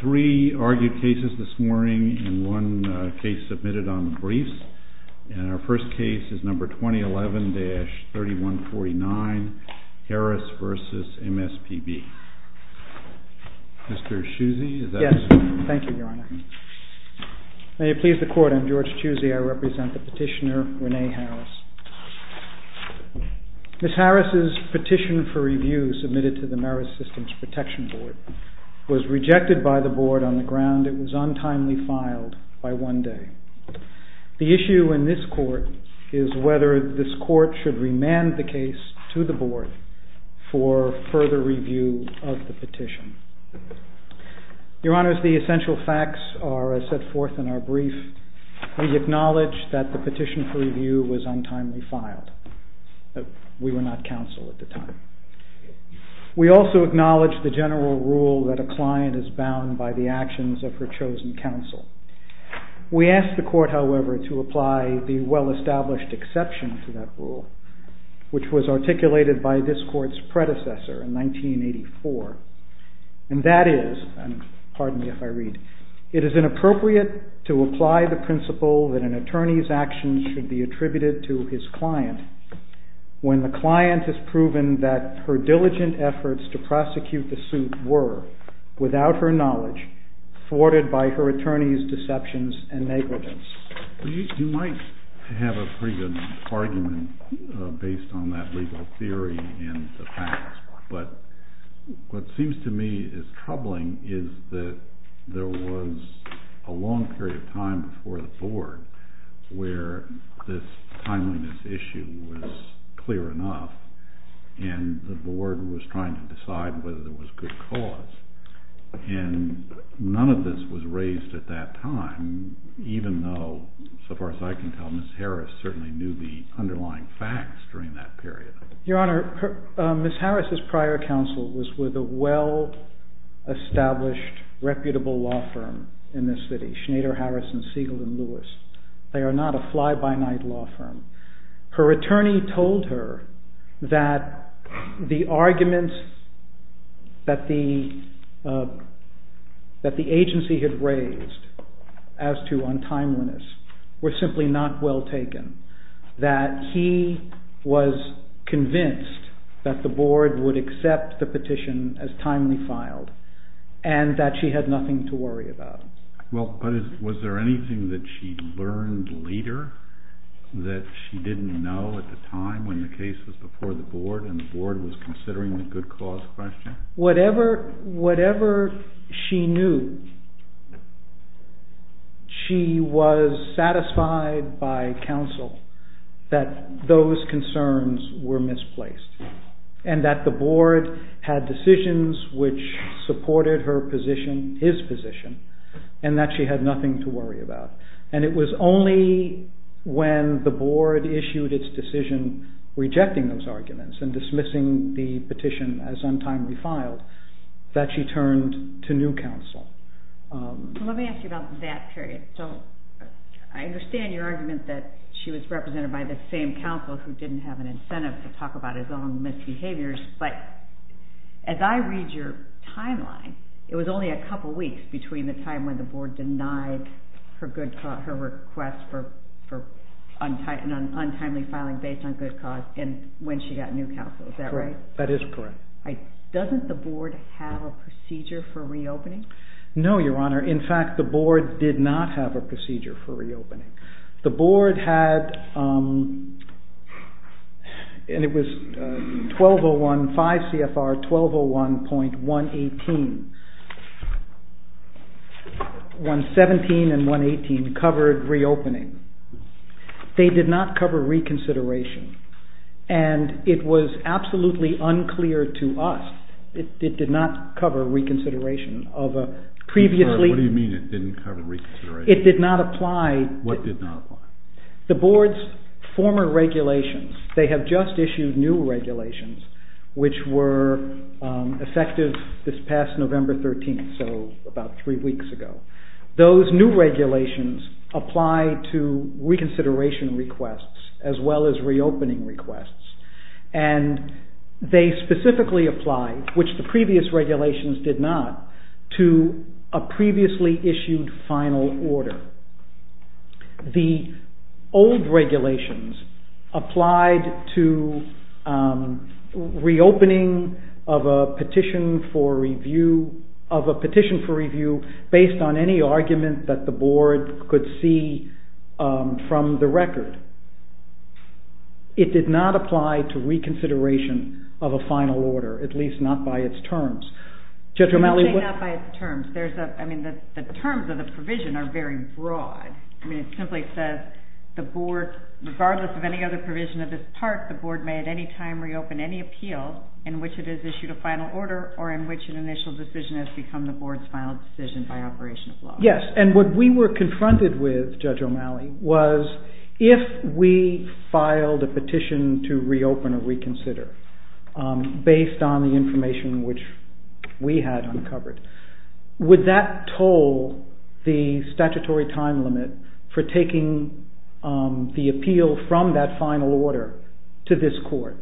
3 argued cases this morning and 1 case submitted on briefs. And our first case is number 2011-3149, Harris v. MSPB. Mr. Chusey, is that correct? Yes. Thank you, Your Honor. May it please the Court, I'm George Chusey. I represent the petitioner, Renee Harris. Ms. Harris' petition for review submitted to the Merit Systems Protection Board was rejected by the Board on the ground it was untimely filed by one day. The issue in this Court is whether this Court should remand the case to the Board for further review of the petition. Your Honors, the essential facts are as set forth in our brief. We acknowledge that the petition for review was untimely filed. We were not counsel at the time. We also acknowledge the general rule that a client is bound by the actions of her chosen counsel. We ask the Court, however, to apply the well-established exception to that rule, which was articulated by this Court's predecessor in 1984. And that is, pardon me if I read, it is inappropriate to apply the principle that an attorney's actions should be attributed to his client when the client has proven that her diligent efforts to prosecute the suit were, without her knowledge, thwarted by her attorney's deceptions and negligence. You might have a pretty good argument based on that legal theory and the facts. But what seems to me is troubling is that there was a long period of time before the Board where this timeliness issue was clear enough, and the Board was trying to decide whether there was good cause. And none of this was raised at that time, even though, so far as I can tell, Ms. Harris certainly knew the underlying facts during that period. Your Honor, Ms. Harris's prior counsel was with a well-established, reputable law firm in this city, Schneider, Harrison, Siegel, and Lewis. They are not a fly-by-night law firm. Her attorney told her that the arguments that the agency had raised as to untimeliness were simply not well taken, that he was convinced that the Board would accept the petition as timely filed, and that she had nothing to worry about. Well, but was there anything that she learned later that she didn't know at the time when the case was before the Board and the Board was considering the good cause question? Whatever she knew, she was satisfied by counsel that those concerns were misplaced, and that the Board had decisions which supported her position, his position, and that she had nothing to worry about. And it was only when the Board issued its decision rejecting those arguments and dismissing the petition as untimely filed that she turned to new counsel. Let me ask you about that period. I understand your argument that she was represented by the same counsel who didn't have an incentive to talk about his own misbehaviors, but as I read your timeline, it was only a couple weeks between the time when the Board denied her request for untimely filing based on good cause and when she got new counsel. Is that right? That is correct. Doesn't the Board have a procedure for reopening? No, Your Honor. In fact, the Board did not have a procedure for reopening. The Board had, and it was 1201.5 CFR 1201.118. 117 and 118 covered reopening. They did not cover reconsideration, and it was absolutely unclear to us. It did not cover reconsideration of a previously... What do you mean it didn't cover reconsideration? It did not apply... What did not apply? The Board's former regulations, they have just issued new regulations which were effective this past November 13th, so about three weeks ago. Those new regulations apply to reconsideration requests as well as reopening requests, and they specifically apply, which the previous regulations did not, to a previously issued final order. The old regulations applied to reopening of a petition for review based on any argument that the Board could see from the record. It did not apply to reconsideration of a final order, at least not by its terms. You say not by its terms. The terms of the provision are very broad. It simply says, regardless of any other provision of this part, the Board may at any time reopen any appeal in which it has issued a final order or in which an initial decision has become the Board's final decision by operation of law. Yes, and what we were confronted with, Judge O'Malley, was if we filed a petition to reopen or reconsider based on the information which we had uncovered, would that toll the statutory time limit for taking the appeal from that final order to this Court?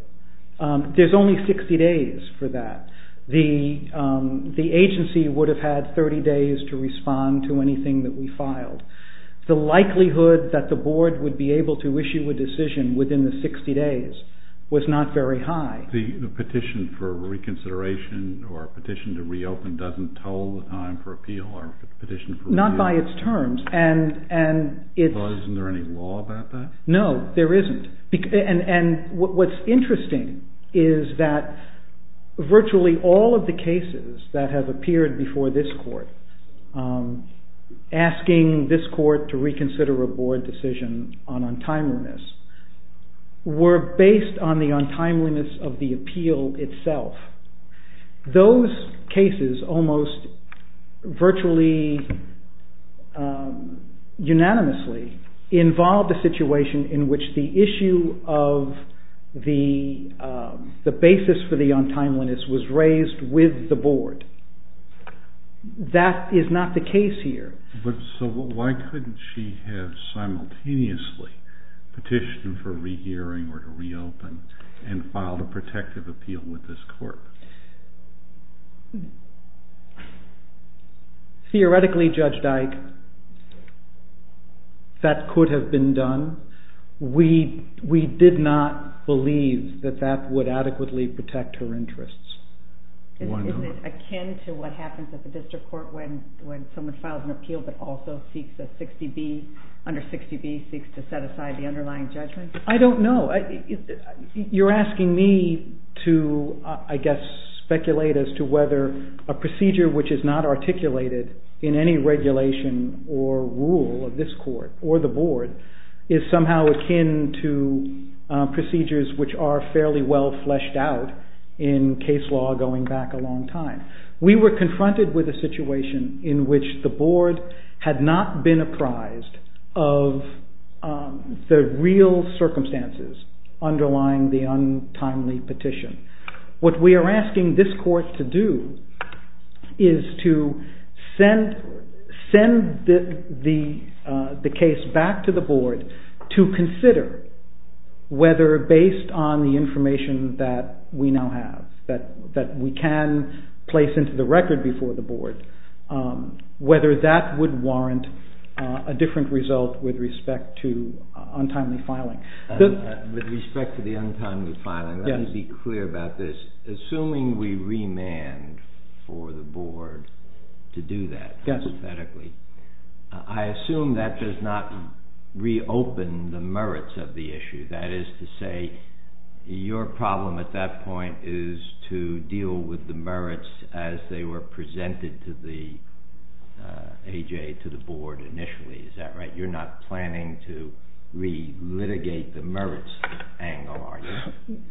There's only 60 days for that. The agency would have had 30 days to respond to anything that we filed. The likelihood that the Board would be able to issue a decision within the 60 days was not very high. The petition for reconsideration or petition to reopen doesn't toll the time for appeal or petition for review? Not by its terms. Isn't there any law about that? No, there isn't. And what's interesting is that virtually all of the cases that have appeared before this Court asking this Court to reconsider a Board decision on untimeliness were based on the untimeliness of the appeal itself. Those cases almost virtually unanimously involved a situation in which the issue of the basis for the untimeliness was raised with the Board. That is not the case here. So why couldn't she have simultaneously petitioned for rehearing or to reopen and filed a protective appeal with this Court? Theoretically, Judge Dyke, that could have been done. We did not believe that that would adequately protect her interests. Isn't it akin to what happens at the District Court when someone files an appeal but also under 60B seeks to set aside the underlying judgment? I don't know. You're asking me to, I guess, speculate as to whether a procedure which is not articulated in any regulation or rule of this Court or the Board is somehow akin to procedures which are fairly well fleshed out in case law going back a long time. We were confronted with a situation in which the Board had not been apprised of the real circumstances underlying the untimely petition. What we are asking this Court to do is to send the case back to the Board to consider whether based on the information that we now have, that we can place into the record before the Board, whether that would warrant a different result with respect to untimely filing. With respect to the untimely filing, let me be clear about this. Assuming we remand for the Board to do that hypothetically, I assume that does not reopen the merits of the issue. That is to say, your problem at that point is to deal with the merits as they were presented to the A.J., to the Board initially, is that right? You're not planning to re-litigate the merits angle, are you?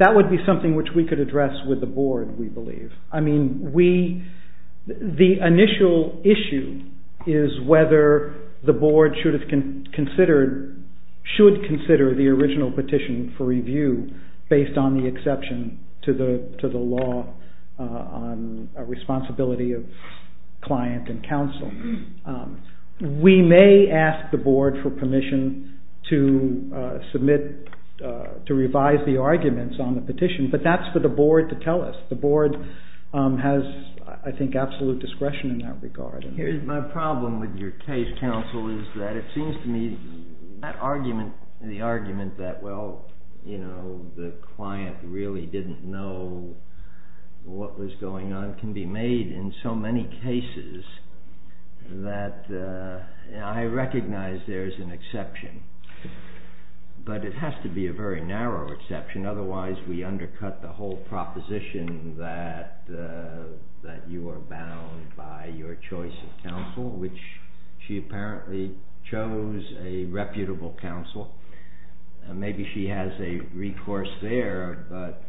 That would be something which we could address with the Board, we believe. The initial issue is whether the Board should consider the original petition for review based on the exception to the law on responsibility of client and counsel. We may ask the Board for permission to revise the arguments on the petition, but that is for the Board to tell us. The Board has, I think, absolute discretion in that regard. My problem with your case, counsel, is that it seems to me that argument, the argument that, well, you know, the client really didn't know what was going on, can be made in so many cases that I recognize there's an exception, but it has to be a very narrow exception. Otherwise, we undercut the whole proposition that you are bound by your choice of counsel, which she apparently chose a reputable counsel. Maybe she has a recourse there, but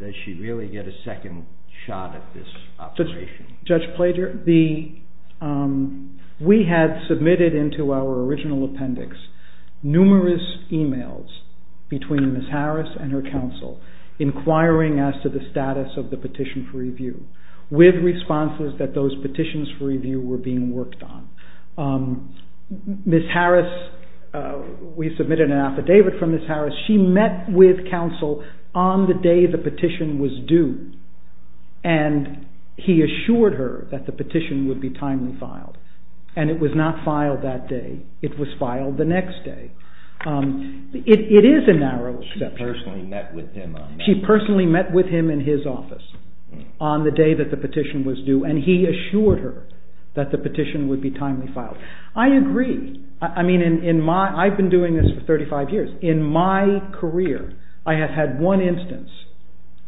does she really get a second shot at this opposition? Judge Plager, we had submitted into our original appendix numerous emails between Ms. Harris and her counsel inquiring as to the status of the petition for review with responses that those petitions for review were being worked on. Ms. Harris, we submitted an affidavit from Ms. Harris. She met with counsel on the day the petition was due, and he assured her that the petition would be timely filed, and it was not filed that day. It was filed the next day. It is a narrow exception. She personally met with him in his office on the day that the petition was due, and he assured her that the petition would be timely filed. I agree. I mean, I've been doing this for 35 years. In my career, I have had one instance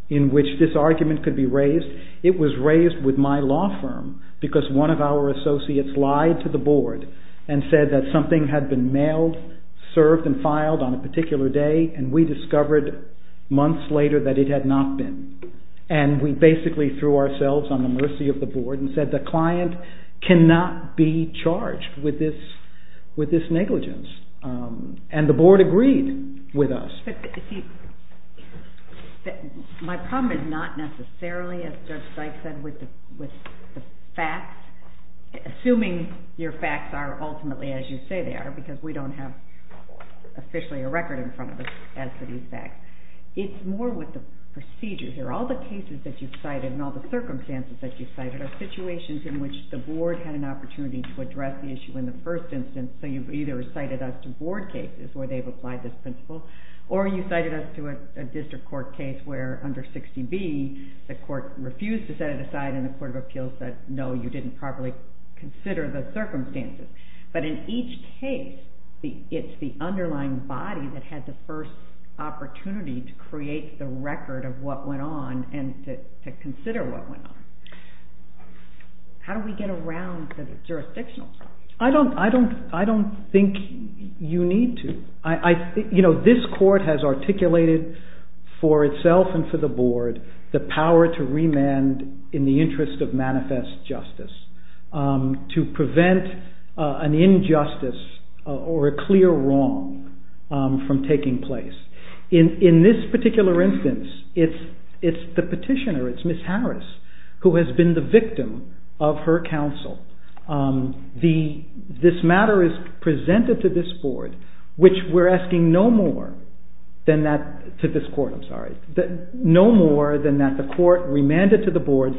in which this argument could be raised. It was raised with my law firm because one of our associates lied to the board and said that something had been mailed, served, and filed on a particular day, and we discovered months later that it had not been, and we basically threw ourselves on the mercy of the board and said the client cannot be charged with this negligence, and the board agreed with us. But, you see, my problem is not necessarily, as Judge Sykes said, with the facts, assuming your facts are ultimately as you say they are, because we don't have officially a record in front of us as to these facts. It's more with the procedures. All the cases that you've cited and all the circumstances that you've cited are situations in which the board had an opportunity to address the issue in the first instance, so you've either cited us to board cases where they've applied this principle, or you've cited us to a district court case where under 60B, the court refused to set it aside and the court of appeals said no, you didn't properly consider the circumstances. But in each case, it's the underlying body that had the first opportunity to create the record of what went on and to consider what went on. How do we get around the jurisdictional problem? I don't think you need to. This court has articulated for itself and for the board the power to remand in the interest of manifest justice, to prevent an injustice or a clear wrong from taking place. In this particular instance, it's the petitioner, it's Ms. Harris, who has been the victim of her counsel. This matter is presented to this board, which we're asking no more than that the court remanded to the board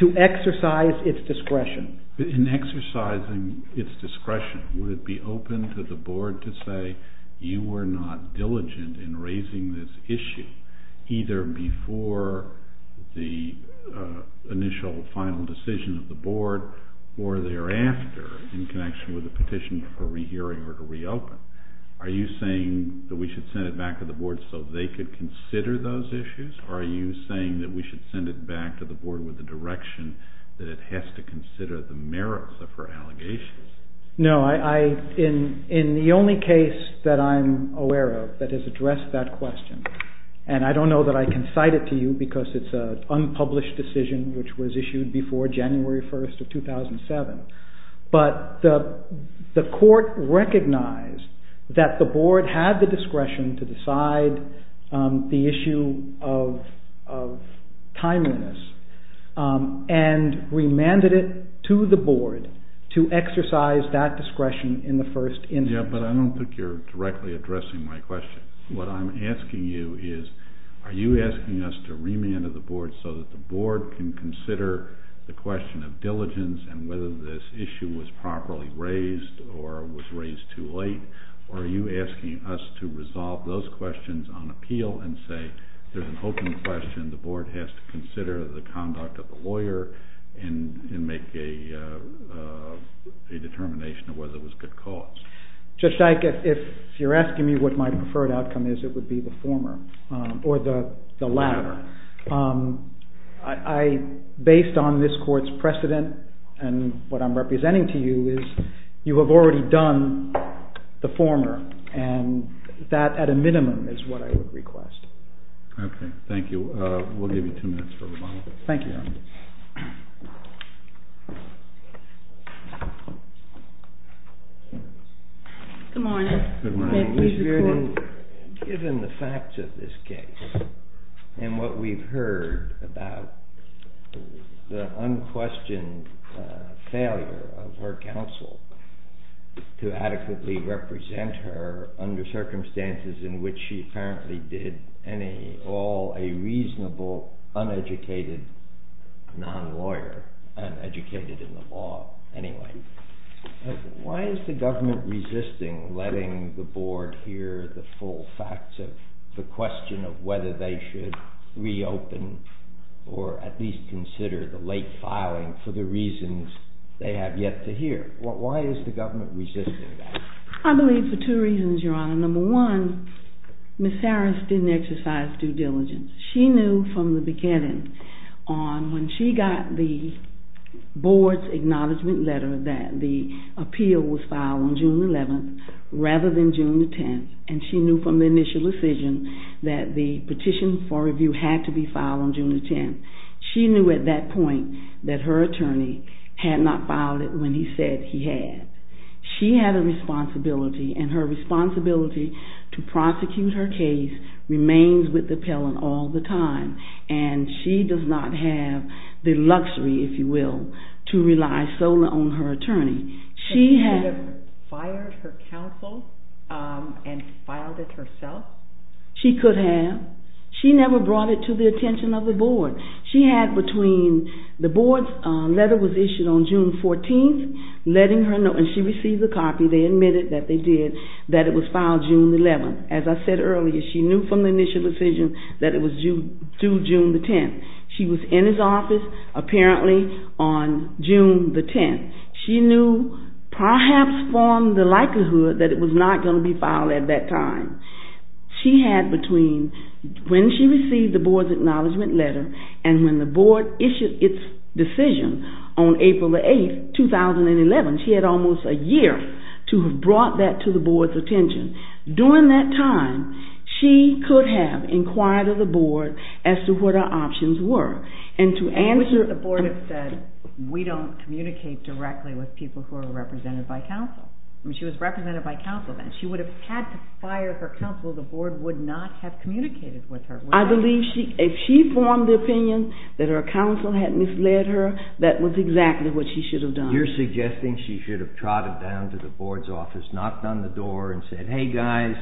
to exercise its discretion. In exercising its discretion, would it be open to the board to say, you were not diligent in raising this issue, either before the initial final decision of the board, or thereafter, in connection with the petition for rehearing or to reopen? Are you saying that we should send it back to the board so they could consider those issues, or are you saying that we should send it back to the board with the direction that it has to consider the merits of her allegations? No. In the only case that I'm aware of that has addressed that question, and I don't know that I can cite it to you because it's an unpublished decision which was issued before January 1st of 2007, but the court recognized that the board had the discretion to decide the issue of timeliness and remanded it to the board to exercise that discretion in the first instance. Yeah, but I don't think you're directly addressing my question. What I'm asking you is, are you asking us to remand to the board so that the board can consider the question of diligence and whether this issue was properly raised or was raised too late? Or are you asking us to resolve those questions on appeal and say, there's an open question, the board has to consider the conduct of the lawyer and make a determination of whether it was good cause? Judge Dyke, if you're asking me what my preferred outcome is, it would be the former, or the latter. Based on this court's precedent and what I'm representing to you is, you have already done the former, and that at a minimum is what I would request. Okay, thank you. We'll give you two minutes for remand. Thank you. Good morning. Good morning. Given the facts of this case and what we've heard about the unquestioned failure of her counsel to adequately represent her under circumstances in which she apparently did, and all a reasonable, uneducated non-lawyer, uneducated in the law anyway, why is the government resisting letting the board hear the full facts of the question of whether they should reopen or at least consider the late filing for the reasons they have yet to hear? Why is the government resisting that? I believe for two reasons, Your Honor. Number one, Ms. Harris didn't exercise due diligence. She knew from the beginning on when she got the board's acknowledgment letter that the appeal was filed on June 11th rather than June 10th, and she knew from the initial decision that the petition for review had to be filed on June 10th. She knew at that point that her attorney had not filed it when he said he had. She had a responsibility, and her responsibility to prosecute her case remains with the appellant all the time, and she does not have the luxury, if you will, to rely solely on her attorney. Could she have fired her counsel and filed it herself? She could have. She never brought it to the attention of the board. The board's letter was issued on June 14th, and she received a copy. They admitted that they did, that it was filed June 11th. As I said earlier, she knew from the initial decision that it was due June 10th. She was in his office apparently on June 10th. She knew perhaps from the likelihood that it was not going to be filed at that time. When she received the board's acknowledgment letter and when the board issued its decision on April 8th, 2011, she had almost a year to have brought that to the board's attention. During that time, she could have inquired of the board as to what her options were. The board has said, we don't communicate directly with people who are represented by counsel. She was represented by counsel then. She would have had to fire her counsel. The board would not have communicated with her. I believe if she formed the opinion that her counsel had misled her, that was exactly what she should have done. You're suggesting she should have trotted down to the board's office, knocked on the door, and said, hey guys,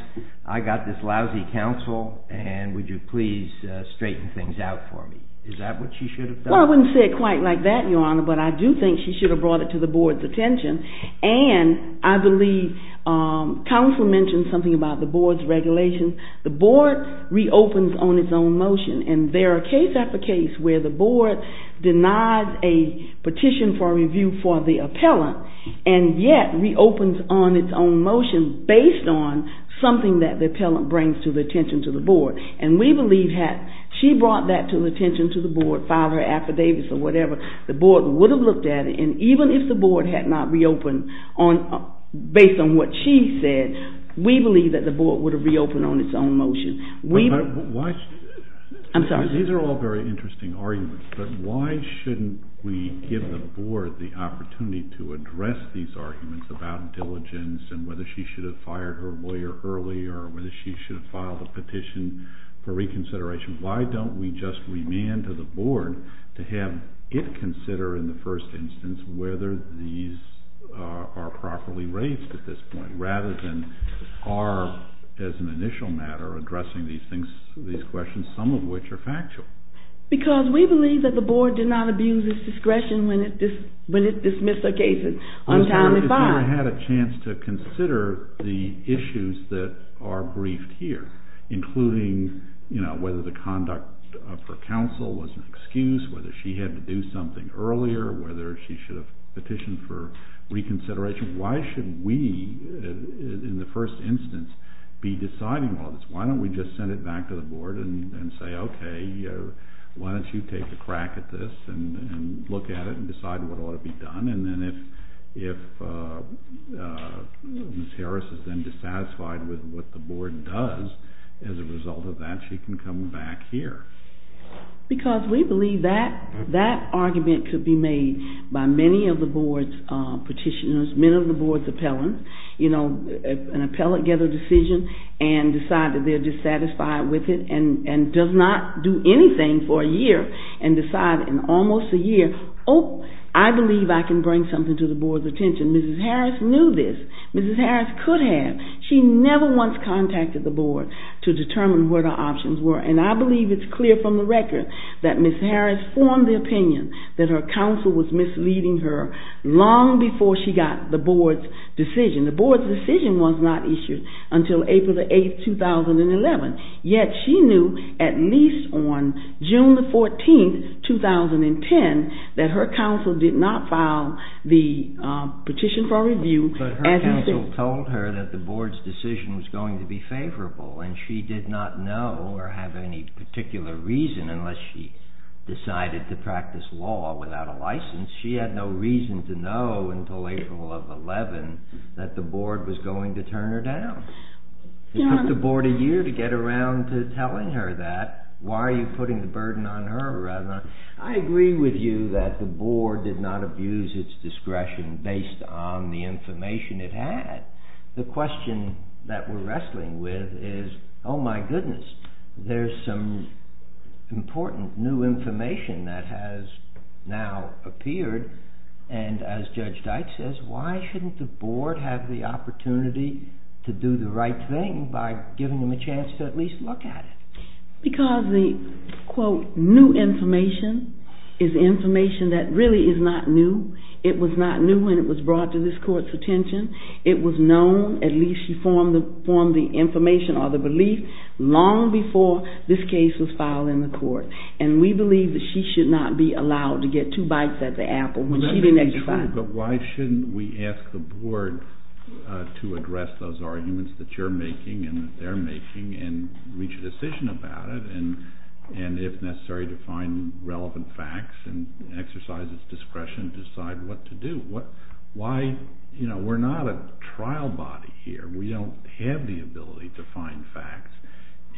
I got this lousy counsel, and would you please straighten things out for me. Is that what she should have done? Well, I wouldn't say it quite like that, Your Honor, but I do think she should have brought it to the board's attention. And I believe counsel mentioned something about the board's regulations. The board reopens on its own motion, and there are case after case where the board denies a petition for review for the appellant, and yet reopens on its own motion based on something that the appellant brings to the attention of the board. She brought that to the attention of the board, filed her affidavits or whatever. The board would have looked at it, and even if the board had not reopened based on what she said, we believe that the board would have reopened on its own motion. These are all very interesting arguments, but why shouldn't we give the board the opportunity to address these arguments about diligence and whether she should have fired her lawyer early or whether she should have filed a petition for reconsideration? Why don't we just remand to the board to have it consider in the first instance whether these are properly raised at this point, rather than our, as an initial matter, addressing these questions, some of which are factual? Because we believe that the board did not abuse its discretion when it dismissed the cases untimely filed. The board had a chance to consider the issues that are briefed here, including whether the conduct of her counsel was an excuse, whether she had to do something earlier, whether she should have petitioned for reconsideration. Why should we, in the first instance, be deciding all this? Why don't we just send it back to the board and say, okay, why don't you take a crack at this and look at it and decide what ought to be done? And then if Ms. Harris is then dissatisfied with what the board does as a result of that, she can come back here. Because we believe that that argument could be made by many of the board's petitioners, many of the board's appellants, you know, an appellate get a decision and decide that they're dissatisfied with it and does not do anything for a year and decide in almost a year, oh, I believe I can bring something to the board's attention. Ms. Harris knew this. Ms. Harris could have. She never once contacted the board to determine what her options were, and I believe it's clear from the record that Ms. Harris formed the opinion that her counsel was misleading her long before she got the board's decision. The board's decision was not issued until April the 8th, 2011, yet she knew at least on June the 14th, 2010, that her counsel did not file the petition for review. But her counsel told her that the board's decision was going to be favorable, and she did not know or have any particular reason unless she decided to practice law without a license. She had no reason to know until April of 11 that the board was going to turn her down. It took the board a year to get around to telling her that. Why are you putting the burden on her? I agree with you that the board did not abuse its discretion based on the information it had. The question that we're wrestling with is, oh, my goodness, there's some important new information that has now appeared, and as Judge Deitch says, why shouldn't the board have the opportunity to do the right thing by giving them a chance to at least look at it? Because the, quote, new information is information that really is not new. It was not new when it was brought to this court's attention. It was known, at least she formed the information or the belief, long before this case was filed in the court. And we believe that she should not be allowed to get two bites at the apple when she didn't expect it. But why shouldn't we ask the board to address those arguments that you're making and that they're making and reach a decision about it and, if necessary, to find relevant facts and exercise its discretion to decide what to do? We're not a trial body here. We don't have the ability to find facts.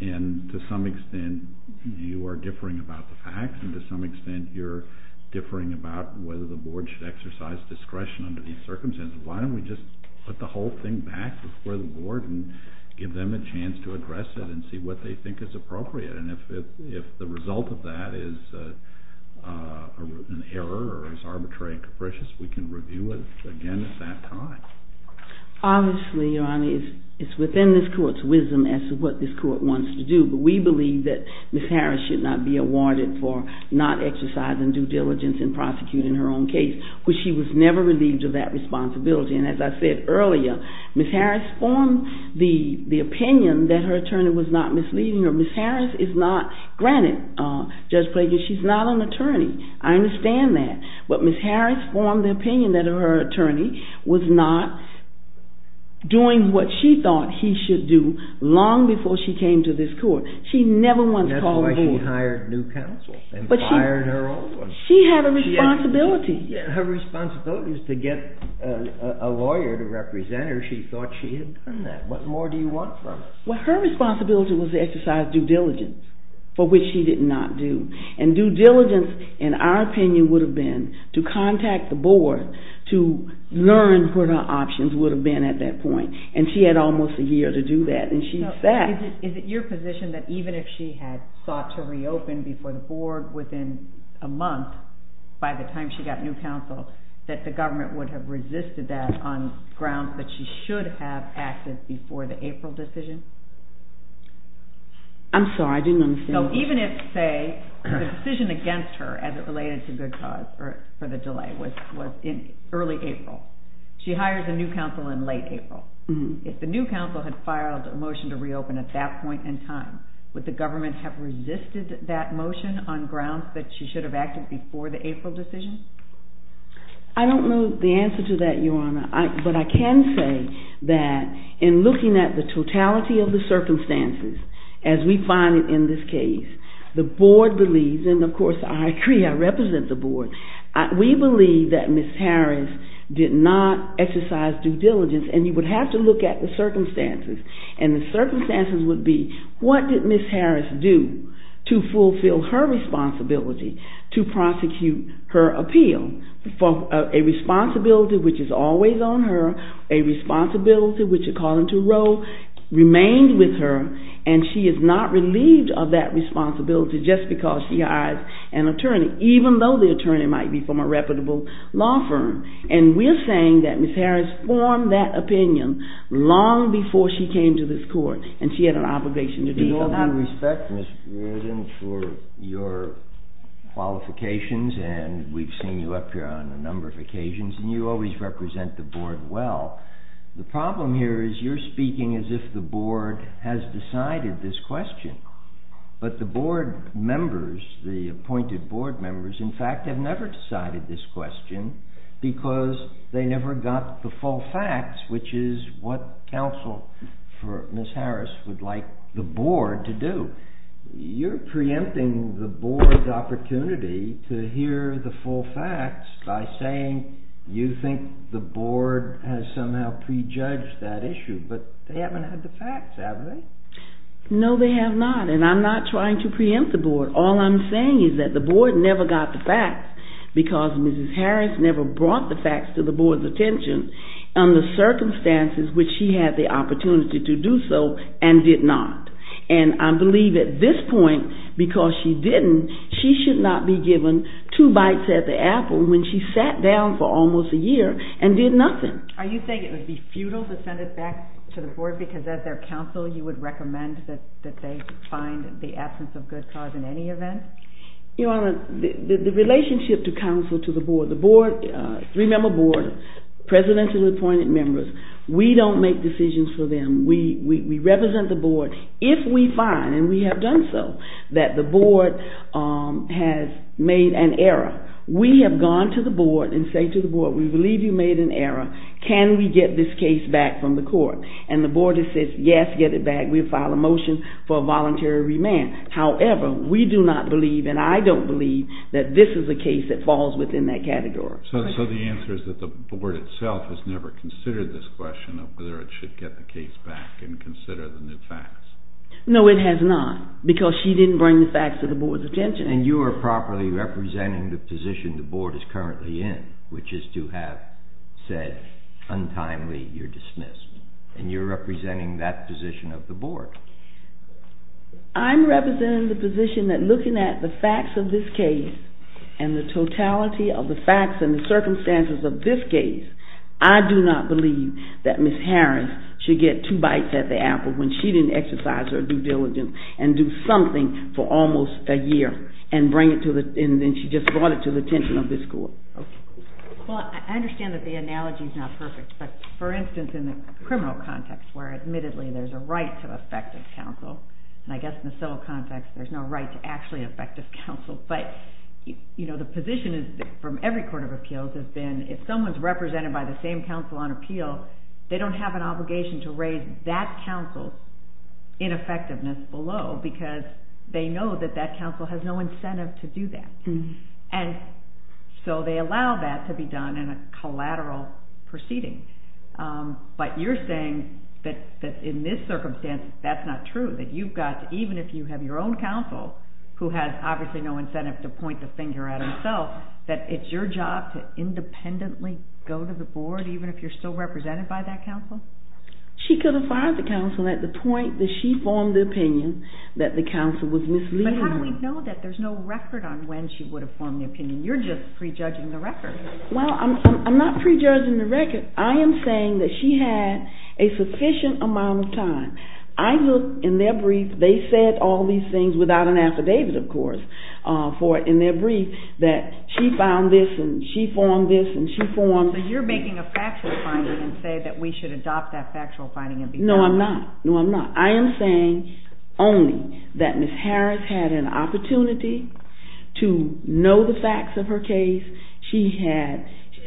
And to some extent, you are differing about the facts, and to some extent, you're differing about whether the board should exercise discretion under these circumstances. Why don't we just put the whole thing back before the board and give them a chance to address it and see what they think is appropriate? And if the result of that is an error or is arbitrary and capricious, we can review it again at that time. Obviously, Your Honor, it's within this court's wisdom as to what this court wants to do. But we believe that Ms. Harris should not be awarded for not exercising due diligence in prosecuting her own case, which she was never relieved of that responsibility. And as I said earlier, Ms. Harris formed the opinion that her attorney was not misleading her. Ms. Harris is not. Granted, Judge Prager, she's not an attorney. I understand that. But Ms. Harris formed the opinion that her attorney was not doing what she thought he should do long before she came to this court. She never once called the board. That's why she hired new counsel and fired her old one. She had a responsibility. Her responsibility is to get a lawyer to represent her. She thought she had done that. What more do you want from her? Well, her responsibility was to exercise due diligence, for which she did not do. And due diligence, in our opinion, would have been to contact the board to learn what her options would have been at that point. And she had almost a year to do that. Is it your position that even if she had sought to reopen before the board within a month, by the time she got new counsel, that the government would have resisted that on grounds that she should have acted before the April decision? I'm sorry, I didn't understand. So even if, say, the decision against her as it related to good cause for the delay was in early April, she hires a new counsel in late April. If the new counsel had filed a motion to reopen at that point in time, would the government have resisted that motion on grounds that she should have acted before the April decision? I don't know the answer to that, Your Honor. But I can say that in looking at the totality of the circumstances, as we find it in this case, the board believes, and of course I agree, I represent the board, we believe that Ms. Harris did not exercise due diligence. And you would have to look at the circumstances. And the circumstances would be, what did Ms. Harris do to fulfill her responsibility to prosecute her appeal for a responsibility which is always on her, a responsibility which according to Roe remained with her, and she is not relieved of that responsibility just because she hires an attorney, even though the attorney might be from a reputable law firm. And we're saying that Ms. Harris formed that opinion long before she came to this court, and she had an obligation to do so. We respect you for your qualifications, and we've seen you up here on a number of occasions, and you always represent the board well. The problem here is you're speaking as if the board has decided this question. But the board members, the appointed board members, in fact, have never decided this question because they never got the full facts, which is what counsel for Ms. Harris would like the board to do. You're preempting the board's opportunity to hear the full facts by saying you think the board has somehow prejudged that issue, but they haven't had the facts, have they? No, they have not, and I'm not trying to preempt the board. All I'm saying is that the board never got the facts because Ms. Harris never brought the facts to the board's attention under circumstances which she had the opportunity to do so and did not. And I believe at this point, because she didn't, she should not be given two bites at the apple when she sat down for almost a year and did nothing. Are you saying it would be futile to send it back to the board because as their counsel, you would recommend that they find the absence of good cause in any event? Your Honor, the relationship to counsel to the board, the board, three-member board, presidents and appointed members, we don't make decisions for them. We represent the board. If we find, and we have done so, that the board has made an error, we have gone to the board and say to the board, we believe you made an error. Can we get this case back from the court? And the board says, yes, get it back. We file a motion for a voluntary remand. However, we do not believe, and I don't believe, that this is a case that falls within that category. So the answer is that the board itself has never considered this question of whether it should get the case back and consider the new facts? No, it has not, because she didn't bring the facts to the board's attention. And you are properly representing the position the board is currently in, which is to have said, untimely, you're dismissed. And you're representing that position of the board. I'm representing the position that looking at the facts of this case and the totality of the facts and the circumstances of this case, I do not believe that Ms. Harris should get two bites at the apple when she didn't exercise her due diligence and do something for almost a year, and then she just brought it to the attention of this court. Well, I understand that the analogy is not perfect, but for instance, in the criminal context, where admittedly there's a right to effective counsel, and I guess in the civil context there's no right to actually effective counsel, but the position from every court of appeals has been, if someone's represented by the same counsel on appeal, they don't have an obligation to raise that counsel's ineffectiveness below, because they know that that counsel has no incentive to do that, and so they allow that to be done in a collateral proceeding. But you're saying that in this circumstance, that's not true, that you've got to, even if you have your own counsel, who has obviously no incentive to point the finger at himself, that it's your job to independently go to the board, even if you're still represented by that counsel? She could have fired the counsel at the point that she formed the opinion that the counsel was misleading me. But how do we know that there's no record on when she would have formed the opinion? You're just prejudging the record. Well, I'm not prejudging the record. I am saying that she had a sufficient amount of time. I looked in their brief. They said all these things, without an affidavit, of course, in their brief, that she found this and she formed this and she formed… Well, but you're making a factual finding and say that we should adopt that factual finding and be… No, I'm not. No, I'm not. I am saying only that Ms. Harris had an opportunity to know the facts of her case.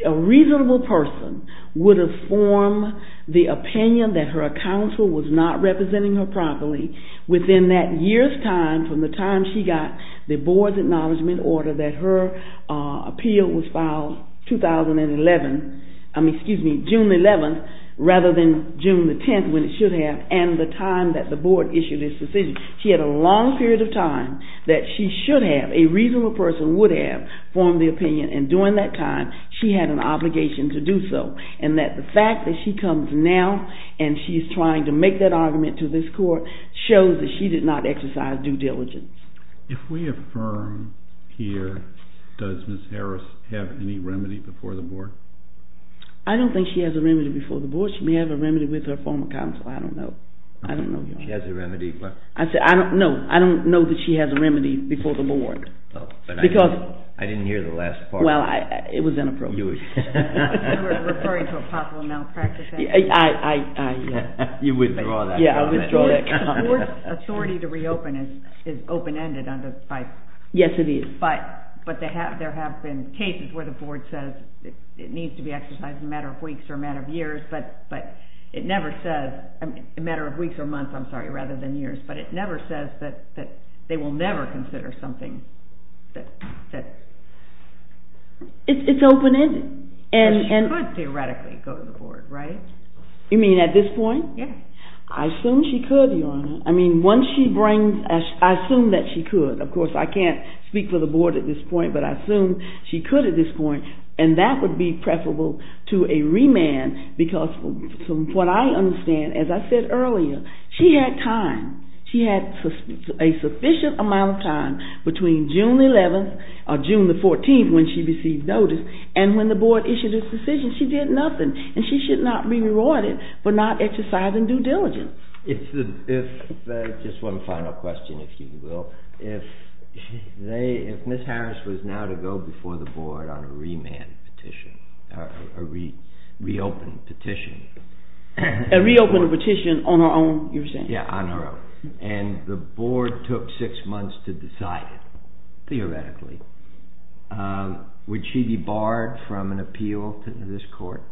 A reasonable person would have formed the opinion that her counsel was not representing her properly within that year's time, from the time she got the board's acknowledgement order that her appeal was filed June 11, rather than June 10, when it should have, and the time that the board issued its decision. She had a long period of time that she should have, a reasonable person would have, formed the opinion, and during that time, she had an obligation to do so, and that the fact that she comes now and she's trying to make that argument to this court shows that she did not exercise due diligence. If we affirm here, does Ms. Harris have any remedy before the board? I don't think she has a remedy before the board. She may have a remedy with her former counsel. I don't know. I don't know, Your Honor. She has a remedy, but… I don't know. I don't know that she has a remedy before the board. Oh, but I didn't hear the last part. Well, it was inappropriate. You were referring to a possible malpractice. I… You withdrew that comment. Yeah, I withdrew that comment. The board's authority to reopen is open-ended on this case. Yes, it is. But there have been cases where the board says it needs to be exercised in a matter of weeks or a matter of years, but it never says…a matter of weeks or months, I'm sorry, rather than years, but it never says that they will never consider something that… It's open-ended. She could theoretically go to the board, right? You mean at this point? Yeah. I assume she could, Your Honor. I mean, once she brings…I assume that she could. Of course, I can't speak for the board at this point, but I assume she could at this point, and that would be preferable to a remand, because from what I understand, as I said earlier, she had time. June the 11th or June the 14th when she received notice, and when the board issued its decision, she did nothing, and she should not be rewarded for not exercising due diligence. If…just one final question, if you will. If they…if Ms. Harris was now to go before the board on a remand petition, a reopened petition… A reopened petition on her own, you're saying? Yeah, on her own. And the board took six months to decide it, theoretically. Would she be barred from an appeal to this court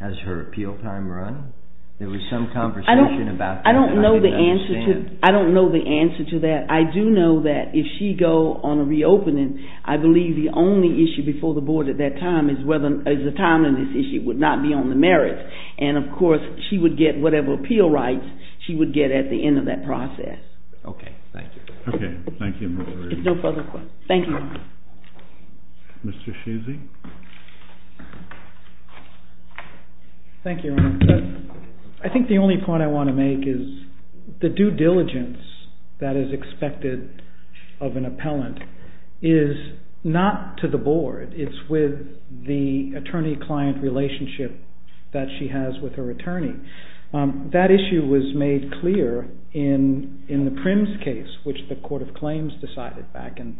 as her appeal time run? There was some conversation about that that I didn't understand. I don't know the answer to that. I do know that if she go on a reopening, I believe the only issue before the board at that time is whether…is the time on this issue would not be on the merits. And, of course, she would get whatever appeal rights she would get at the end of that process. Okay. Thank you. Okay. Thank you, Ms. Reardon. No further questions. Thank you. Thank you, Your Honor. I think the only point I want to make is the due diligence that is expected of an appellant is not to the board. It's with the attorney-client relationship that she has with her attorney. That issue was made clear in the Primms case, which the Court of Claims decided back in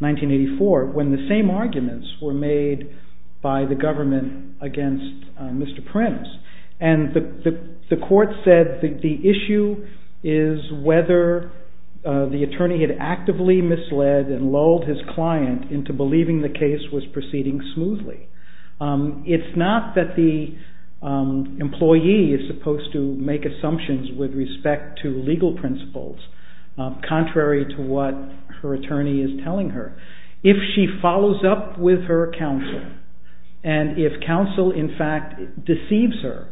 1984, when the same arguments were made by the government against Mr. Primms. And the court said the issue is whether the attorney had actively misled and lulled his client into believing the case was proceeding smoothly. It's not that the employee is supposed to make assumptions with respect to legal principles, contrary to what her attorney is telling her. If she follows up with her counsel, and if counsel, in fact, deceives her,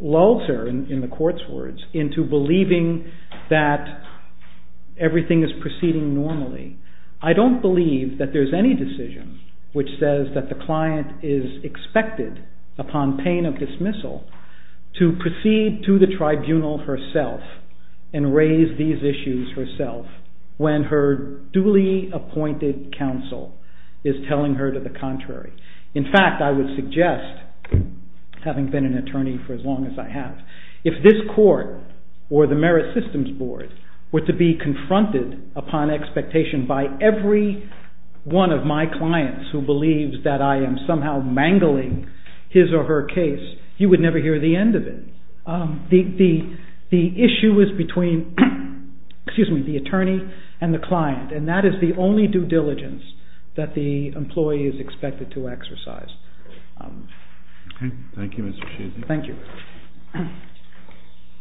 lulls her, in the court's words, into believing that everything is proceeding normally, I don't believe that there's any decision which says that the client is expected, upon pain of dismissal, to proceed to the tribunal herself and raise these issues herself, when her duly appointed counsel is telling her to the contrary. In fact, I would suggest, having been an attorney for as long as I have, if this court, or the Merit Systems Board, were to be confronted upon expectation by every one of my clients who believes that I am somehow mangling his or her case, you would never hear the end of it. The issue is between the attorney and the client, and that is the only due diligence that the employee is expected to exercise. Okay. Thank you, Mr. Sheehan. Thank you.